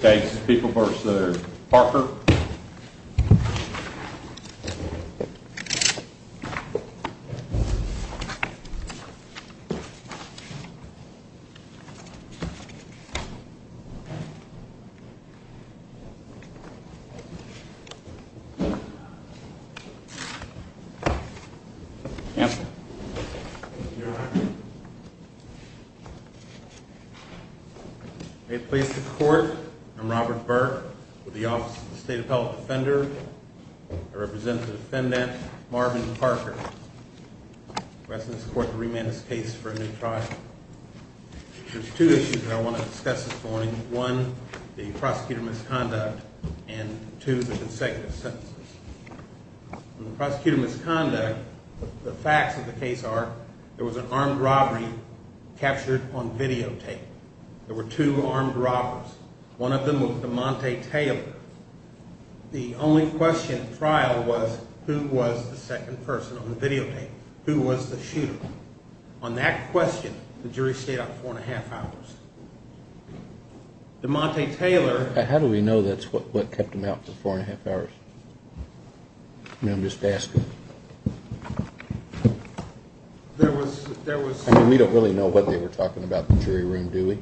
Okay, people first. They're Parker and please support. I'm Robert Burke with the Office of the State Appellate Defender. I represent the defendant, Marvin Parker. We're asking this court to remand this case for a new trial. There's two issues that I want to discuss this morning. One, the prosecutor misconduct and two, the consecutive sentences. In the prosecutor misconduct, the facts of the case are there was an armed robbery captured on videotape. There were two armed robbers. One of them was DeMonte Taylor. The only question at trial was who was the second person on the videotape? Who was the shooter? On that question, the jury stayed out four and a half hours. DeMonte Taylor... How do we know that's what kept them out for four and a half hours? I mean, I'm just asking. There was... We don't really know what they were talking about in the jury room, do we?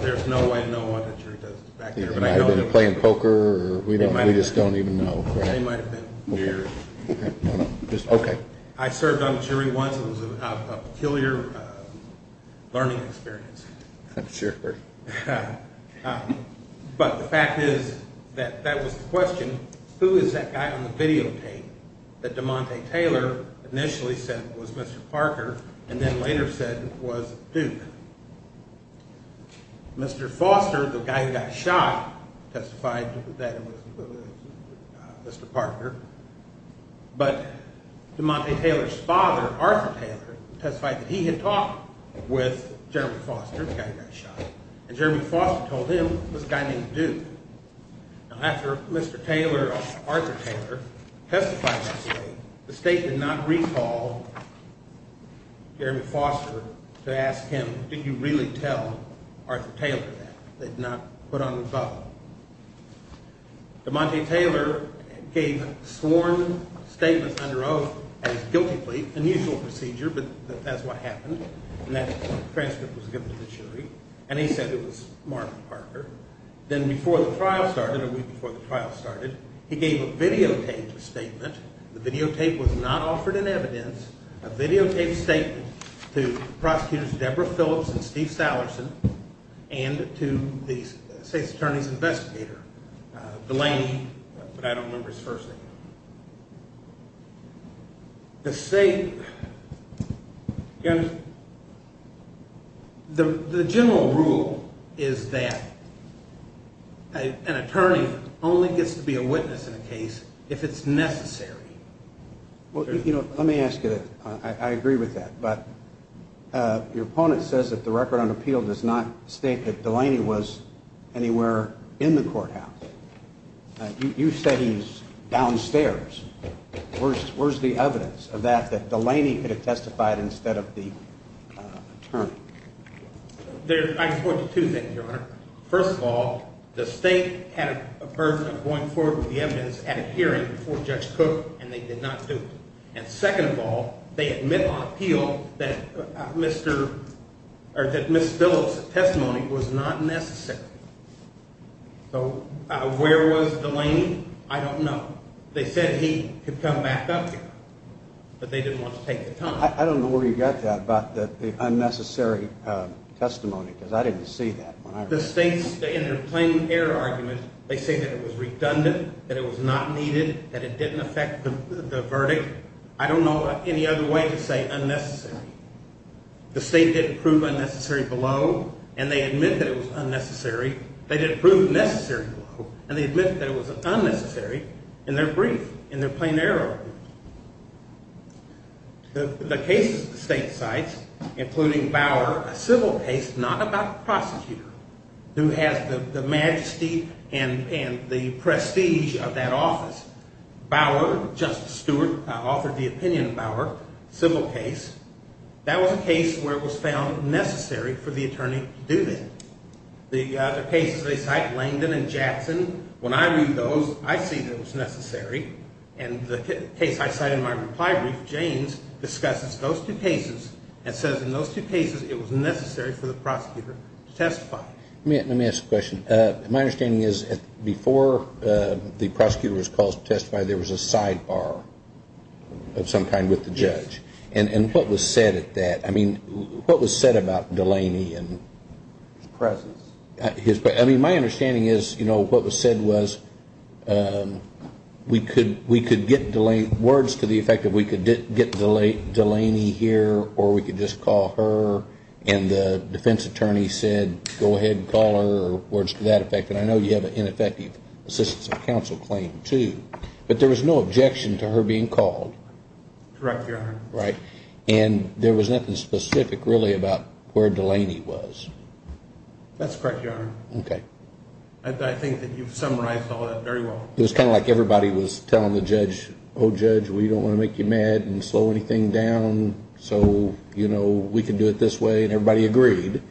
There's no way to know what the jury does back there. They might have been playing poker. We just don't even know. They might have been here. Okay. I served on the jury once. It was a peculiar learning experience. I'm sure. But the fact is that that was the question. Who is that guy on the videotape that DeMonte Taylor initially said was Mr. Parker and then later said was Duke? Mr. Foster, the guy who got shot, testified that it was Mr. Parker. But DeMonte Taylor's father, Arthur Taylor, testified that he had talked with General Foster, the guy who got shot. And Jeremy Foster told him it was a guy named Duke. Now, after Mr. Taylor or Arthur Taylor testified that way, the state did not recall Jeremy Foster to ask him, did you really tell Arthur Taylor that? They did not put on the vote. DeMonte Taylor gave sworn statements under oath at his guilty plea, unusual procedure, but that's what happened. And that transcript was given to the jury. They said it was Mark Parker. Then before the trial started, a week before the trial started, he gave a videotape statement. The videotape was not offered in evidence. A videotape statement to Prosecutors Deborah Phillips and Steve Sallerson and to the state's attorney's investigator, Delaney. But I don't remember his first name. The state, again, the general rule is that an attorney only gets to be a witness in a case if it's necessary. Well, you know, let me ask you, I agree with that. But your opponent says that the record on appeal does not state that Delaney was anywhere in the courthouse. You said he's downstairs. Where's the evidence of that, that Delaney could have testified instead of the attorney? I can point to two things, Your Honor. First of all, the state had a burden of going forward with the evidence at a hearing before Judge Cook, and they did not do it. And second of all, they admit on appeal that Ms. Phillips' testimony was not necessary. So where was Delaney? I don't know. They said he could come back up here, but they didn't want to take the time. I don't know where you got that about the unnecessary testimony, because I didn't see that. The state, in their plain air argument, they say that it was redundant, that it was not needed, that it didn't affect the verdict. I don't know of any other way to say unnecessary. The state didn't prove unnecessary below, and they admit that it was unnecessary. They didn't prove necessary below, and they admit that it was unnecessary in their brief, in their plain air argument. The cases the state cites, including Bauer, a civil case not about the prosecutor, who has the majesty and the prestige of that office. Bauer, Justice Stewart authored the opinion of Bauer, civil case. That was a case where it was found necessary for the attorney to do that. The cases they cite, Langdon and Jackson, when I read those, I see that it was necessary. And the case I cite in my reply brief, Janes, discusses those two cases and says in those two cases it was necessary for the prosecutor to testify. Let me ask a question. My understanding is before the prosecutor was called to testify, there was a sidebar of some kind with the judge. And what was said at that? I mean, what was said about Delaney and his presence? I mean, my understanding is, you know, what was said was we could get words to the effect that we could get Delaney here, or we could just call her, and the defense attorney said, go ahead and call her, or words to that effect. And I know you have an ineffective assistance of counsel claim, too. But there was no objection to her being called. Correct, Your Honor. Right. And there was nothing specific, really, about where Delaney was. That's correct, Your Honor. Okay. I think that you've summarized all that very well. It was kind of like everybody was telling the judge, oh, judge, we don't want to make you mad and slow anything down, so, you know, we can do it this way, and everybody agreed.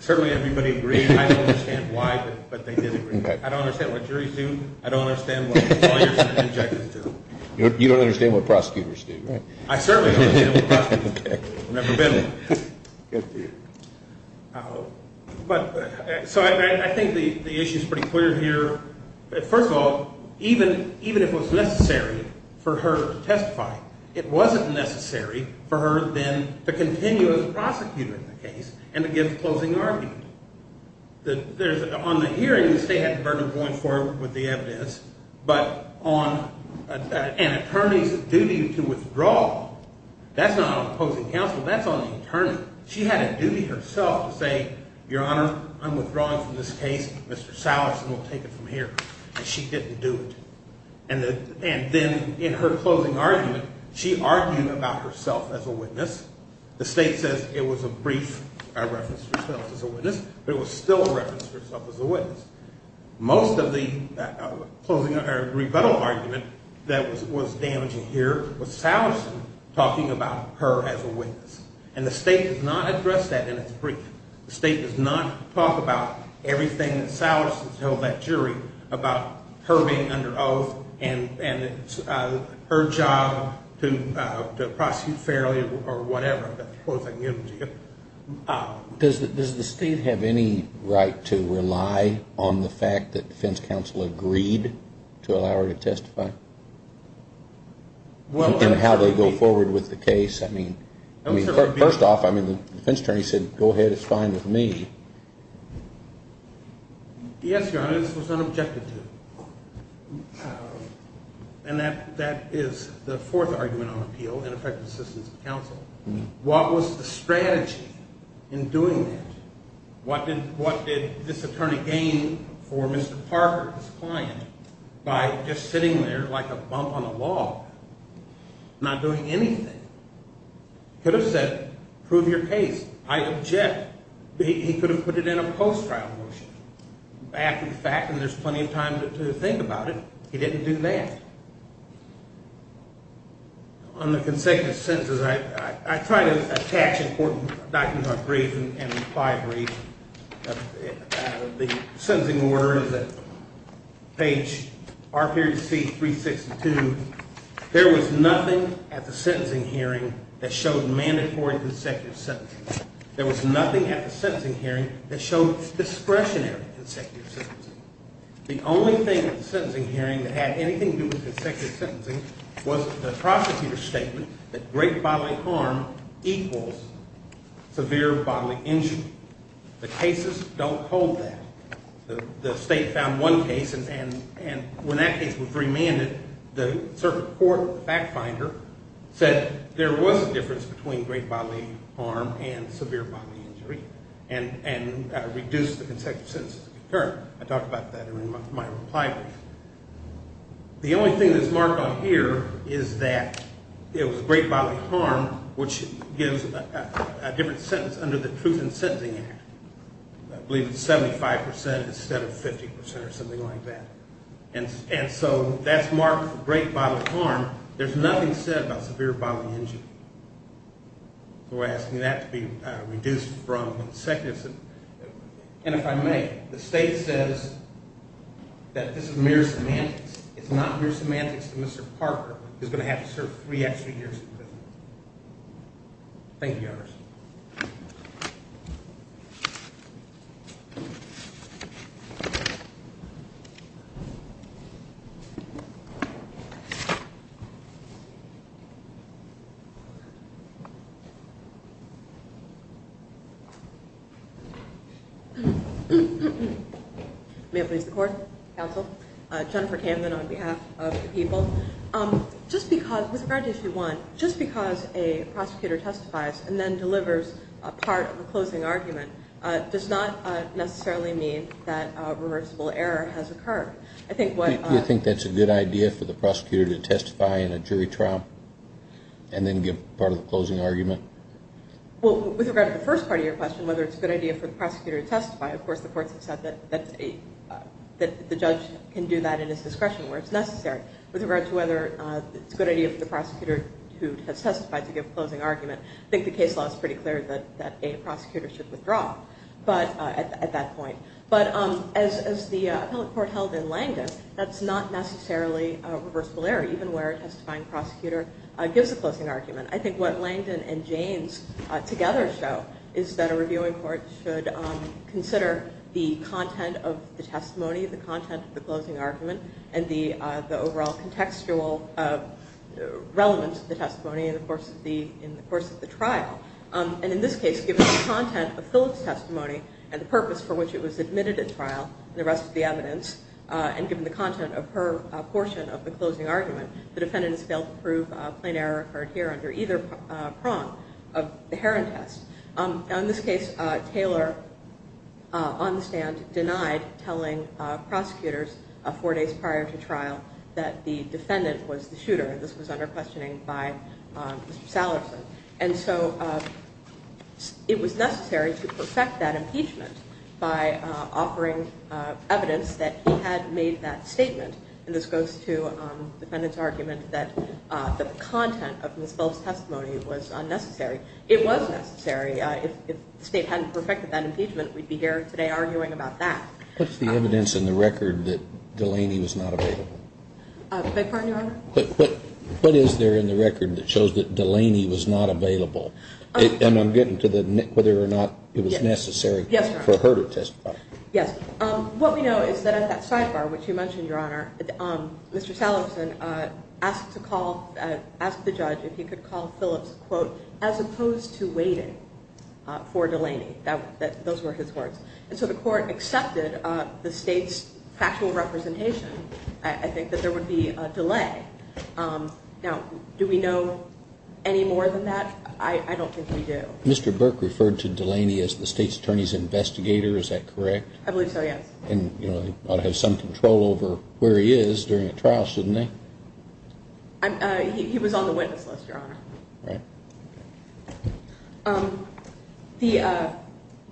Certainly everybody agreed. I don't understand why, but they did agree. I don't understand what juries do. I don't understand what lawyers have objections to. You don't understand what prosecutors do, right? I certainly don't understand what prosecutors do. I've never been one. Good for you. So I think the issue is pretty clear here. First of all, even if it was necessary for her to testify, it wasn't necessary for her then to continue as a prosecutor in the case and to give a closing argument. On the hearing, the state had the burden of going forward with the evidence, but on an attorney's duty to withdraw, that's not on opposing counsel, that's on the attorney. She had a duty herself to say, Your Honor, I'm withdrawing from this case. Mr. Salison will take it from here, and she didn't do it. And then in her closing argument, she argued about herself as a witness. The state says it was a brief reference to herself as a witness, but it was still a reference to herself as a witness. Most of the closing or rebuttal argument that was damaging here was Salison talking about her as a witness. And the state does not address that in its brief. The state does not talk about everything that Salison told that jury about her being under oath and her job to prosecute fairly or whatever. Does the state have any right to rely on the fact that defense counsel agreed to allow her to testify? In how they go forward with the case? I mean, first off, the defense attorney said, Go ahead, it's fine with me. Yes, Your Honor, this was not objected to. And that is the fourth argument on appeal in effective assistance to counsel. What was the strategy in doing that? What did this attorney gain for Mr. Parker, his client, by just sitting there like a bump on a log, not doing anything? He could have said, Prove your case. I object. He could have put it in a post-trial motion. After the fact, and there's plenty of time to think about it, he didn't do that. On the consecutive sentences, I try to attach important documents to our brief and five briefs. The sentencing order is at page R.C. 362. There was nothing at the sentencing hearing that showed mandatory consecutive sentencing. There was nothing at the sentencing hearing that showed discretionary consecutive sentencing. The only thing at the sentencing hearing that had anything to do with consecutive sentencing was the prosecutor's statement that great bodily harm equals severe bodily injury. The cases don't hold that. The state found one case, and when that case was remanded, the circuit court, the fact finder, said there was a difference between great bodily harm and severe bodily injury, and reduced the consecutive sentences concurrent. I'll talk about that in my reply brief. The only thing that's marked on here is that it was great bodily harm, which gives a different sentence under the Truth in Sentencing Act. I believe it's 75% instead of 50% or something like that. And so that's marked great bodily harm. There's nothing said about severe bodily injury. So we're asking that to be reduced from consecutive sentences. And if I may, the state says that this is mere semantics. It's not mere semantics that Mr. Parker is going to have to serve three extra years in prison. May it please the court, counsel. Jennifer Canvan on behalf of the people. Just because, with regard to issue one, just because a prosecutor testifies and then delivers a part of the closing argument, does not necessarily mean that a reversible error has occurred. I think what... Do you think that's a good idea for the prosecutor to testify in a jury trial and then give part of the closing argument? Well, with regard to the first part of your question, whether it's a good idea for the prosecutor to testify, of course the courts have said that the judge can do that in his discretion where it's necessary. With regard to whether it's a good idea for the prosecutor who has testified to give a closing argument, I think the case law is pretty clear that a prosecutor should withdraw at that point. But as the appellate court held in Langdon, that's not necessarily a reversible error, even where a testifying prosecutor gives a closing argument. I think what Langdon and Jaynes together show is that a reviewing court should consider the content of the testimony, the content of the closing argument, and the overall contextual relevance of the testimony in the course of the trial. And in this case, given the content of Phillips' testimony and the purpose for which it was admitted at trial, and the rest of the evidence, and given the content of her portion of the closing argument, the defendant has failed to prove a plain error occurred here under either prong of the Heron test. In this case, Taylor, on the stand, denied telling prosecutors four days prior to trial that the defendant was the shooter. This was under questioning by Mr. Sallerson. And so it was necessary to perfect that impeachment by offering evidence that he had made that statement. And this goes to the defendant's argument that the content of Ms. Phillips' testimony was unnecessary. It was necessary. If the State hadn't perfected that impeachment, we'd be here today arguing about that. What's the evidence in the record that Delaney was not available? Beg your pardon, Your Honor? What is there in the record that shows that Delaney was not available? And I'm getting to whether or not it was necessary for her to testify. Yes. What we know is that at that sidebar, which you mentioned, Your Honor, Mr. Sallerson asked the judge if he could call Phillips, quote, as opposed to waiting for Delaney. Those were his words. And so the court accepted the State's factual representation, I think, that there would be a delay. Now, do we know any more than that? I don't think we do. Mr. Burke referred to Delaney as the State's attorney's investigator. Is that correct? I believe so, yes. And, you know, they ought to have some control over where he is during a trial, shouldn't they? He was on the witness list, Your Honor.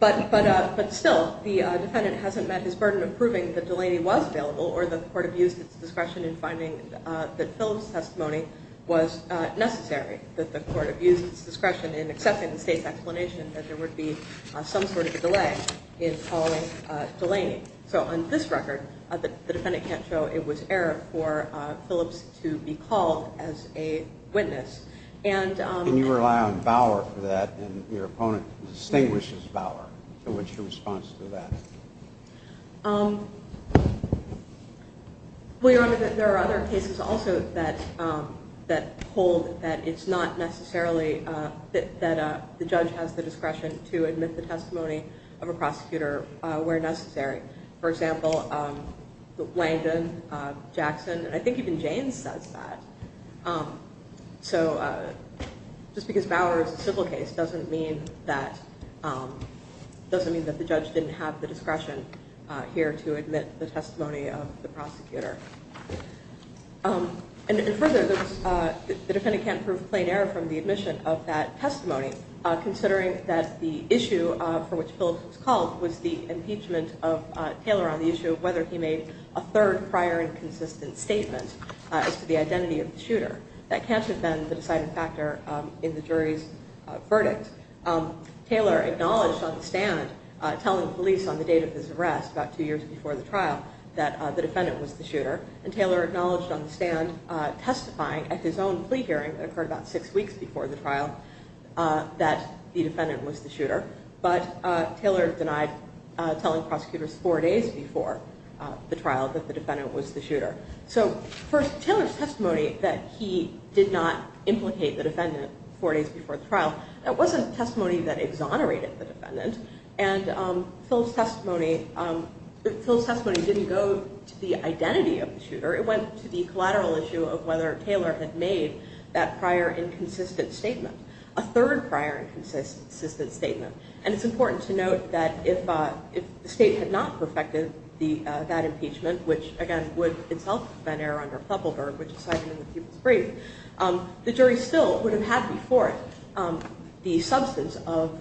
But still, the defendant hasn't met his burden of proving that Delaney was available or the court abused its discretion in finding that Phillips' testimony was necessary, that the court abused its discretion in accepting the State's explanation that there would be some sort of a delay in calling Delaney. So on this record, the defendant can't show it was error for Phillips to be called as a witness. And you rely on Bauer for that, and your opponent distinguishes Bauer. What's your response to that? Well, Your Honor, there are other cases also that hold that it's not necessarily that the judge has the discretion to admit the testimony of a prosecutor where necessary. For example, Langdon, Jackson, and I think even Janes says that. So just because Bauer is a civil case doesn't mean that the judge didn't have the discretion here to admit the testimony of the prosecutor. And further, the defendant can't prove plain error from the admission of that testimony, considering that the issue for which Phillips was called was the impeachment of Taylor on the issue of whether he made a third prior and consistent statement as to the identity of the shooter. That can't have been the deciding factor in the jury's verdict. Taylor acknowledged on the stand, telling police on the date of his arrest, about two years before the trial, that the defendant was the shooter. And Taylor acknowledged on the stand, testifying at his own plea hearing that occurred about six weeks before the trial, that the defendant was the shooter. But Taylor denied telling prosecutors four days before the trial that the defendant was the shooter. So first, Taylor's testimony that he did not implicate the defendant four days before the trial, that wasn't testimony that exonerated the defendant. And Phillips' testimony didn't go to the identity of the shooter. It went to the collateral issue of whether Taylor had made that prior and consistent statement. A third prior and consistent statement. And it's important to note that if the state had not perfected that impeachment, which again would itself have been error under Puppelberg, which is cited in the People's Brief, the jury still would have had before it the substance of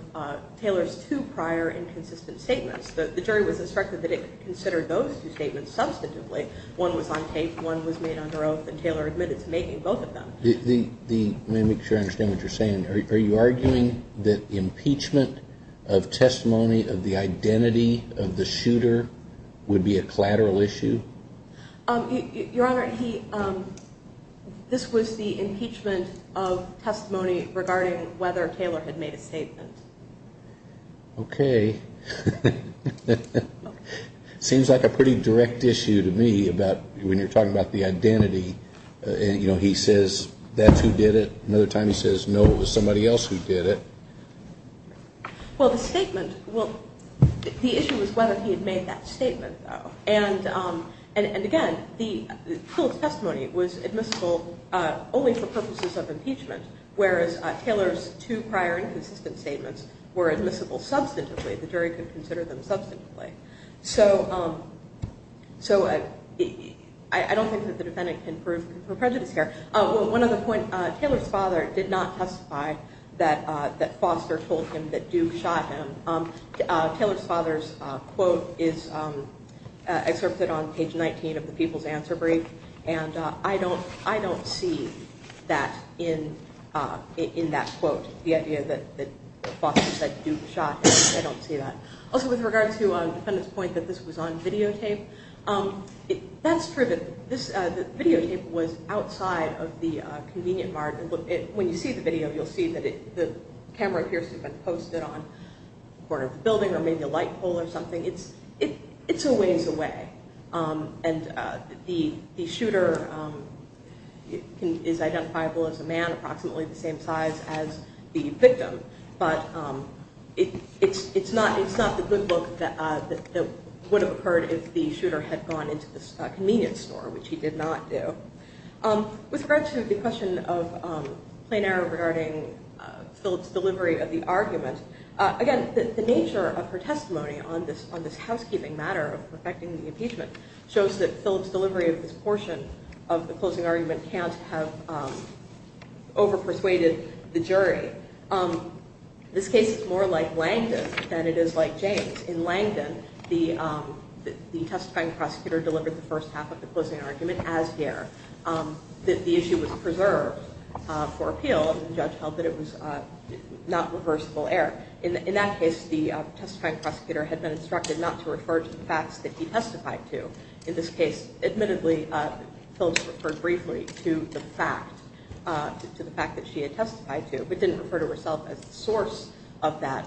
Taylor's two prior and consistent statements. The jury was instructed that it consider those two statements substantively. One was on tape, one was made under oath, and Taylor admitted to making both of them. Let me make sure I understand what you're saying. Are you arguing that impeachment of testimony of the identity of the shooter would be a collateral issue? Your Honor, this was the impeachment of testimony regarding whether Taylor had made a statement. Okay. Okay. Seems like a pretty direct issue to me when you're talking about the identity. You know, he says that's who did it. Another time he says no, it was somebody else who did it. Well, the statement, well, the issue was whether he had made that statement, though. And again, the testimony was admissible only for purposes of impeachment, whereas Taylor's two prior and consistent statements were admissible substantively. The jury could consider them substantively. So I don't think that the defendant can prove prejudice here. One other point. Taylor's father did not testify that Foster told him that Duke shot him. Taylor's father's quote is excerpted on page 19 of the People's Answer Brief, and I don't see that in that quote, the idea that Foster said Duke shot him. I don't see that. I don't see the defendant's point that this was on videotape. That's true. The videotape was outside of the convenient margin. When you see the video, you'll see that the camera appears to have been posted on the corner of the building or maybe a light pole or something. It's a ways away. And the shooter is identifiable as a man approximately the same size as the victim. But it's not the good look that would have occurred if the shooter had gone into the convenience store, which he did not do. With regard to the question of plain error regarding Phillips' delivery of the argument, again, the nature of her testimony on this housekeeping matter affecting the impeachment shows that Phillips' delivery of this portion of the closing argument can't have over-persuaded the jury. This case is more like Langdon than it is like James. In Langdon, the testifying prosecutor delivered the first half of the closing argument as here. The issue was preserved for appeal. The judge held that it was not reversible error. In that case, the testifying prosecutor had been instructed not to refer to the facts that he testified to. In this case, admittedly, Phillips referred briefly to the fact that she had testified to, but didn't refer to herself as the source of that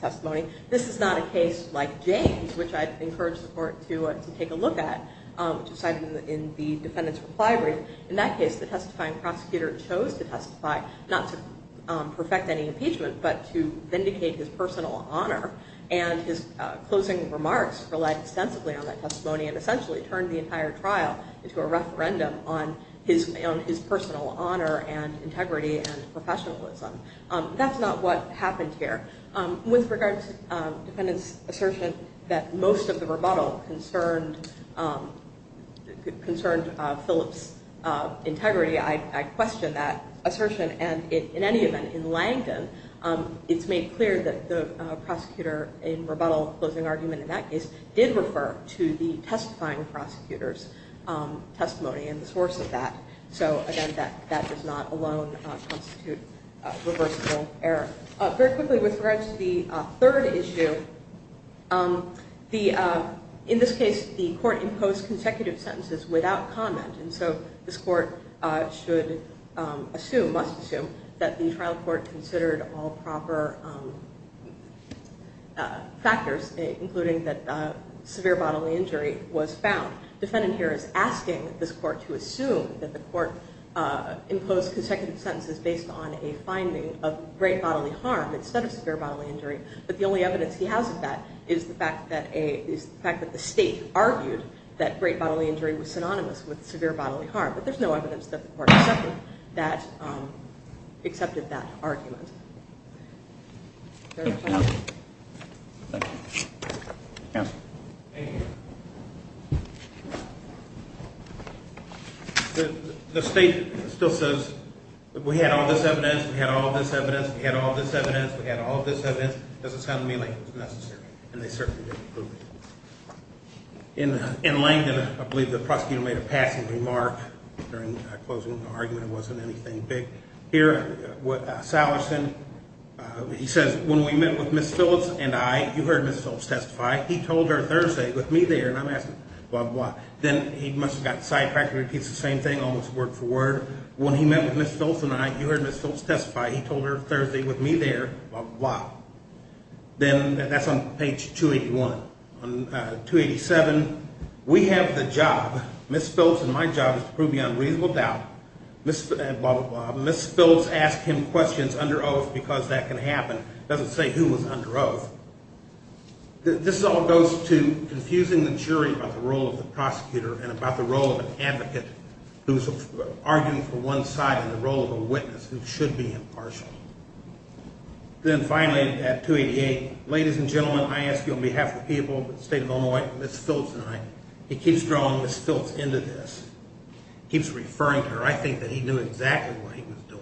testimony. This is not a case like James, which I'd encourage the court to take a look at, which is cited in the defendant's reply brief. In that case, the testifying prosecutor chose to testify not to perfect any impeachment, but to vindicate his personal honor. And his closing remarks relied extensively on that testimony and essentially turned the entire trial into a referendum on his personal honor and integrity and professionalism. That's not what happened here. With regard to the defendant's assertion that most of the rebuttal concerned Phillips' integrity, I question that assertion. And in any event, in Langdon, it's made clear that the prosecutor in rebuttal, closing argument in that case, did refer to the testifying prosecutor's testimony and the source of that. And that does not alone constitute reversible error. Very quickly, with regard to the third issue, in this case, the court imposed consecutive sentences without comment. And so this court should assume, must assume, that the trial court considered all proper factors, including that severe bodily injury was found. The defendant here is asking this court to assume that the court imposed consecutive sentences based on a finding of great bodily harm instead of severe bodily injury. But the only evidence he has of that is the fact that the state argued that great bodily injury was synonymous with severe bodily harm. But there's no evidence that the court accepted that argument. Thank you. The state still says, we had all this evidence, we had all this evidence, we had all this evidence, we had all this evidence. It doesn't sound to me like it was necessary. And they certainly didn't prove it. In Langdon, I believe the prosecutor made a passing remark during closing argument. It wasn't anything big. Here, Sallerson, he says, when we met with Ms. Phillips and I, you heard Ms. Phillips testify, he told her Thursday, with me there, and I'm asking, blah, blah. Then he must have gotten sidetracked and repeats the same thing, almost word for word. When he met with Ms. Phillips and I, you heard Ms. Phillips testify, he told her Thursday, with me there, blah, blah. Then, that's on page 281. On 287, we have the job, Ms. Phillips, and my job is to prove beyond reasonable doubt, blah, blah, blah. Ms. Phillips asked him questions under oath because that can happen. It doesn't say who was under oath. This all goes to confusing the jury about the role of the prosecutor and about the role of an advocate who's arguing for one side in the role of a witness who should be impartial. Then, finally, at 288, ladies and gentlemen, I ask you on behalf of the people of the state of Illinois, Ms. Phillips and I, he keeps drawing Ms. Phillips into this. He keeps referring to her. I think that he knew exactly what he was doing.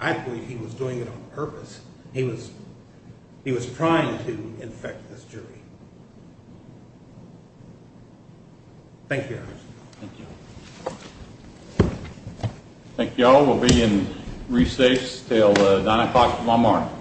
I believe he was doing it on purpose. He was trying to infect this jury. Thank you, Your Honor. Thank you. Thank you all. We'll be in recess until 9 o'clock tomorrow morning.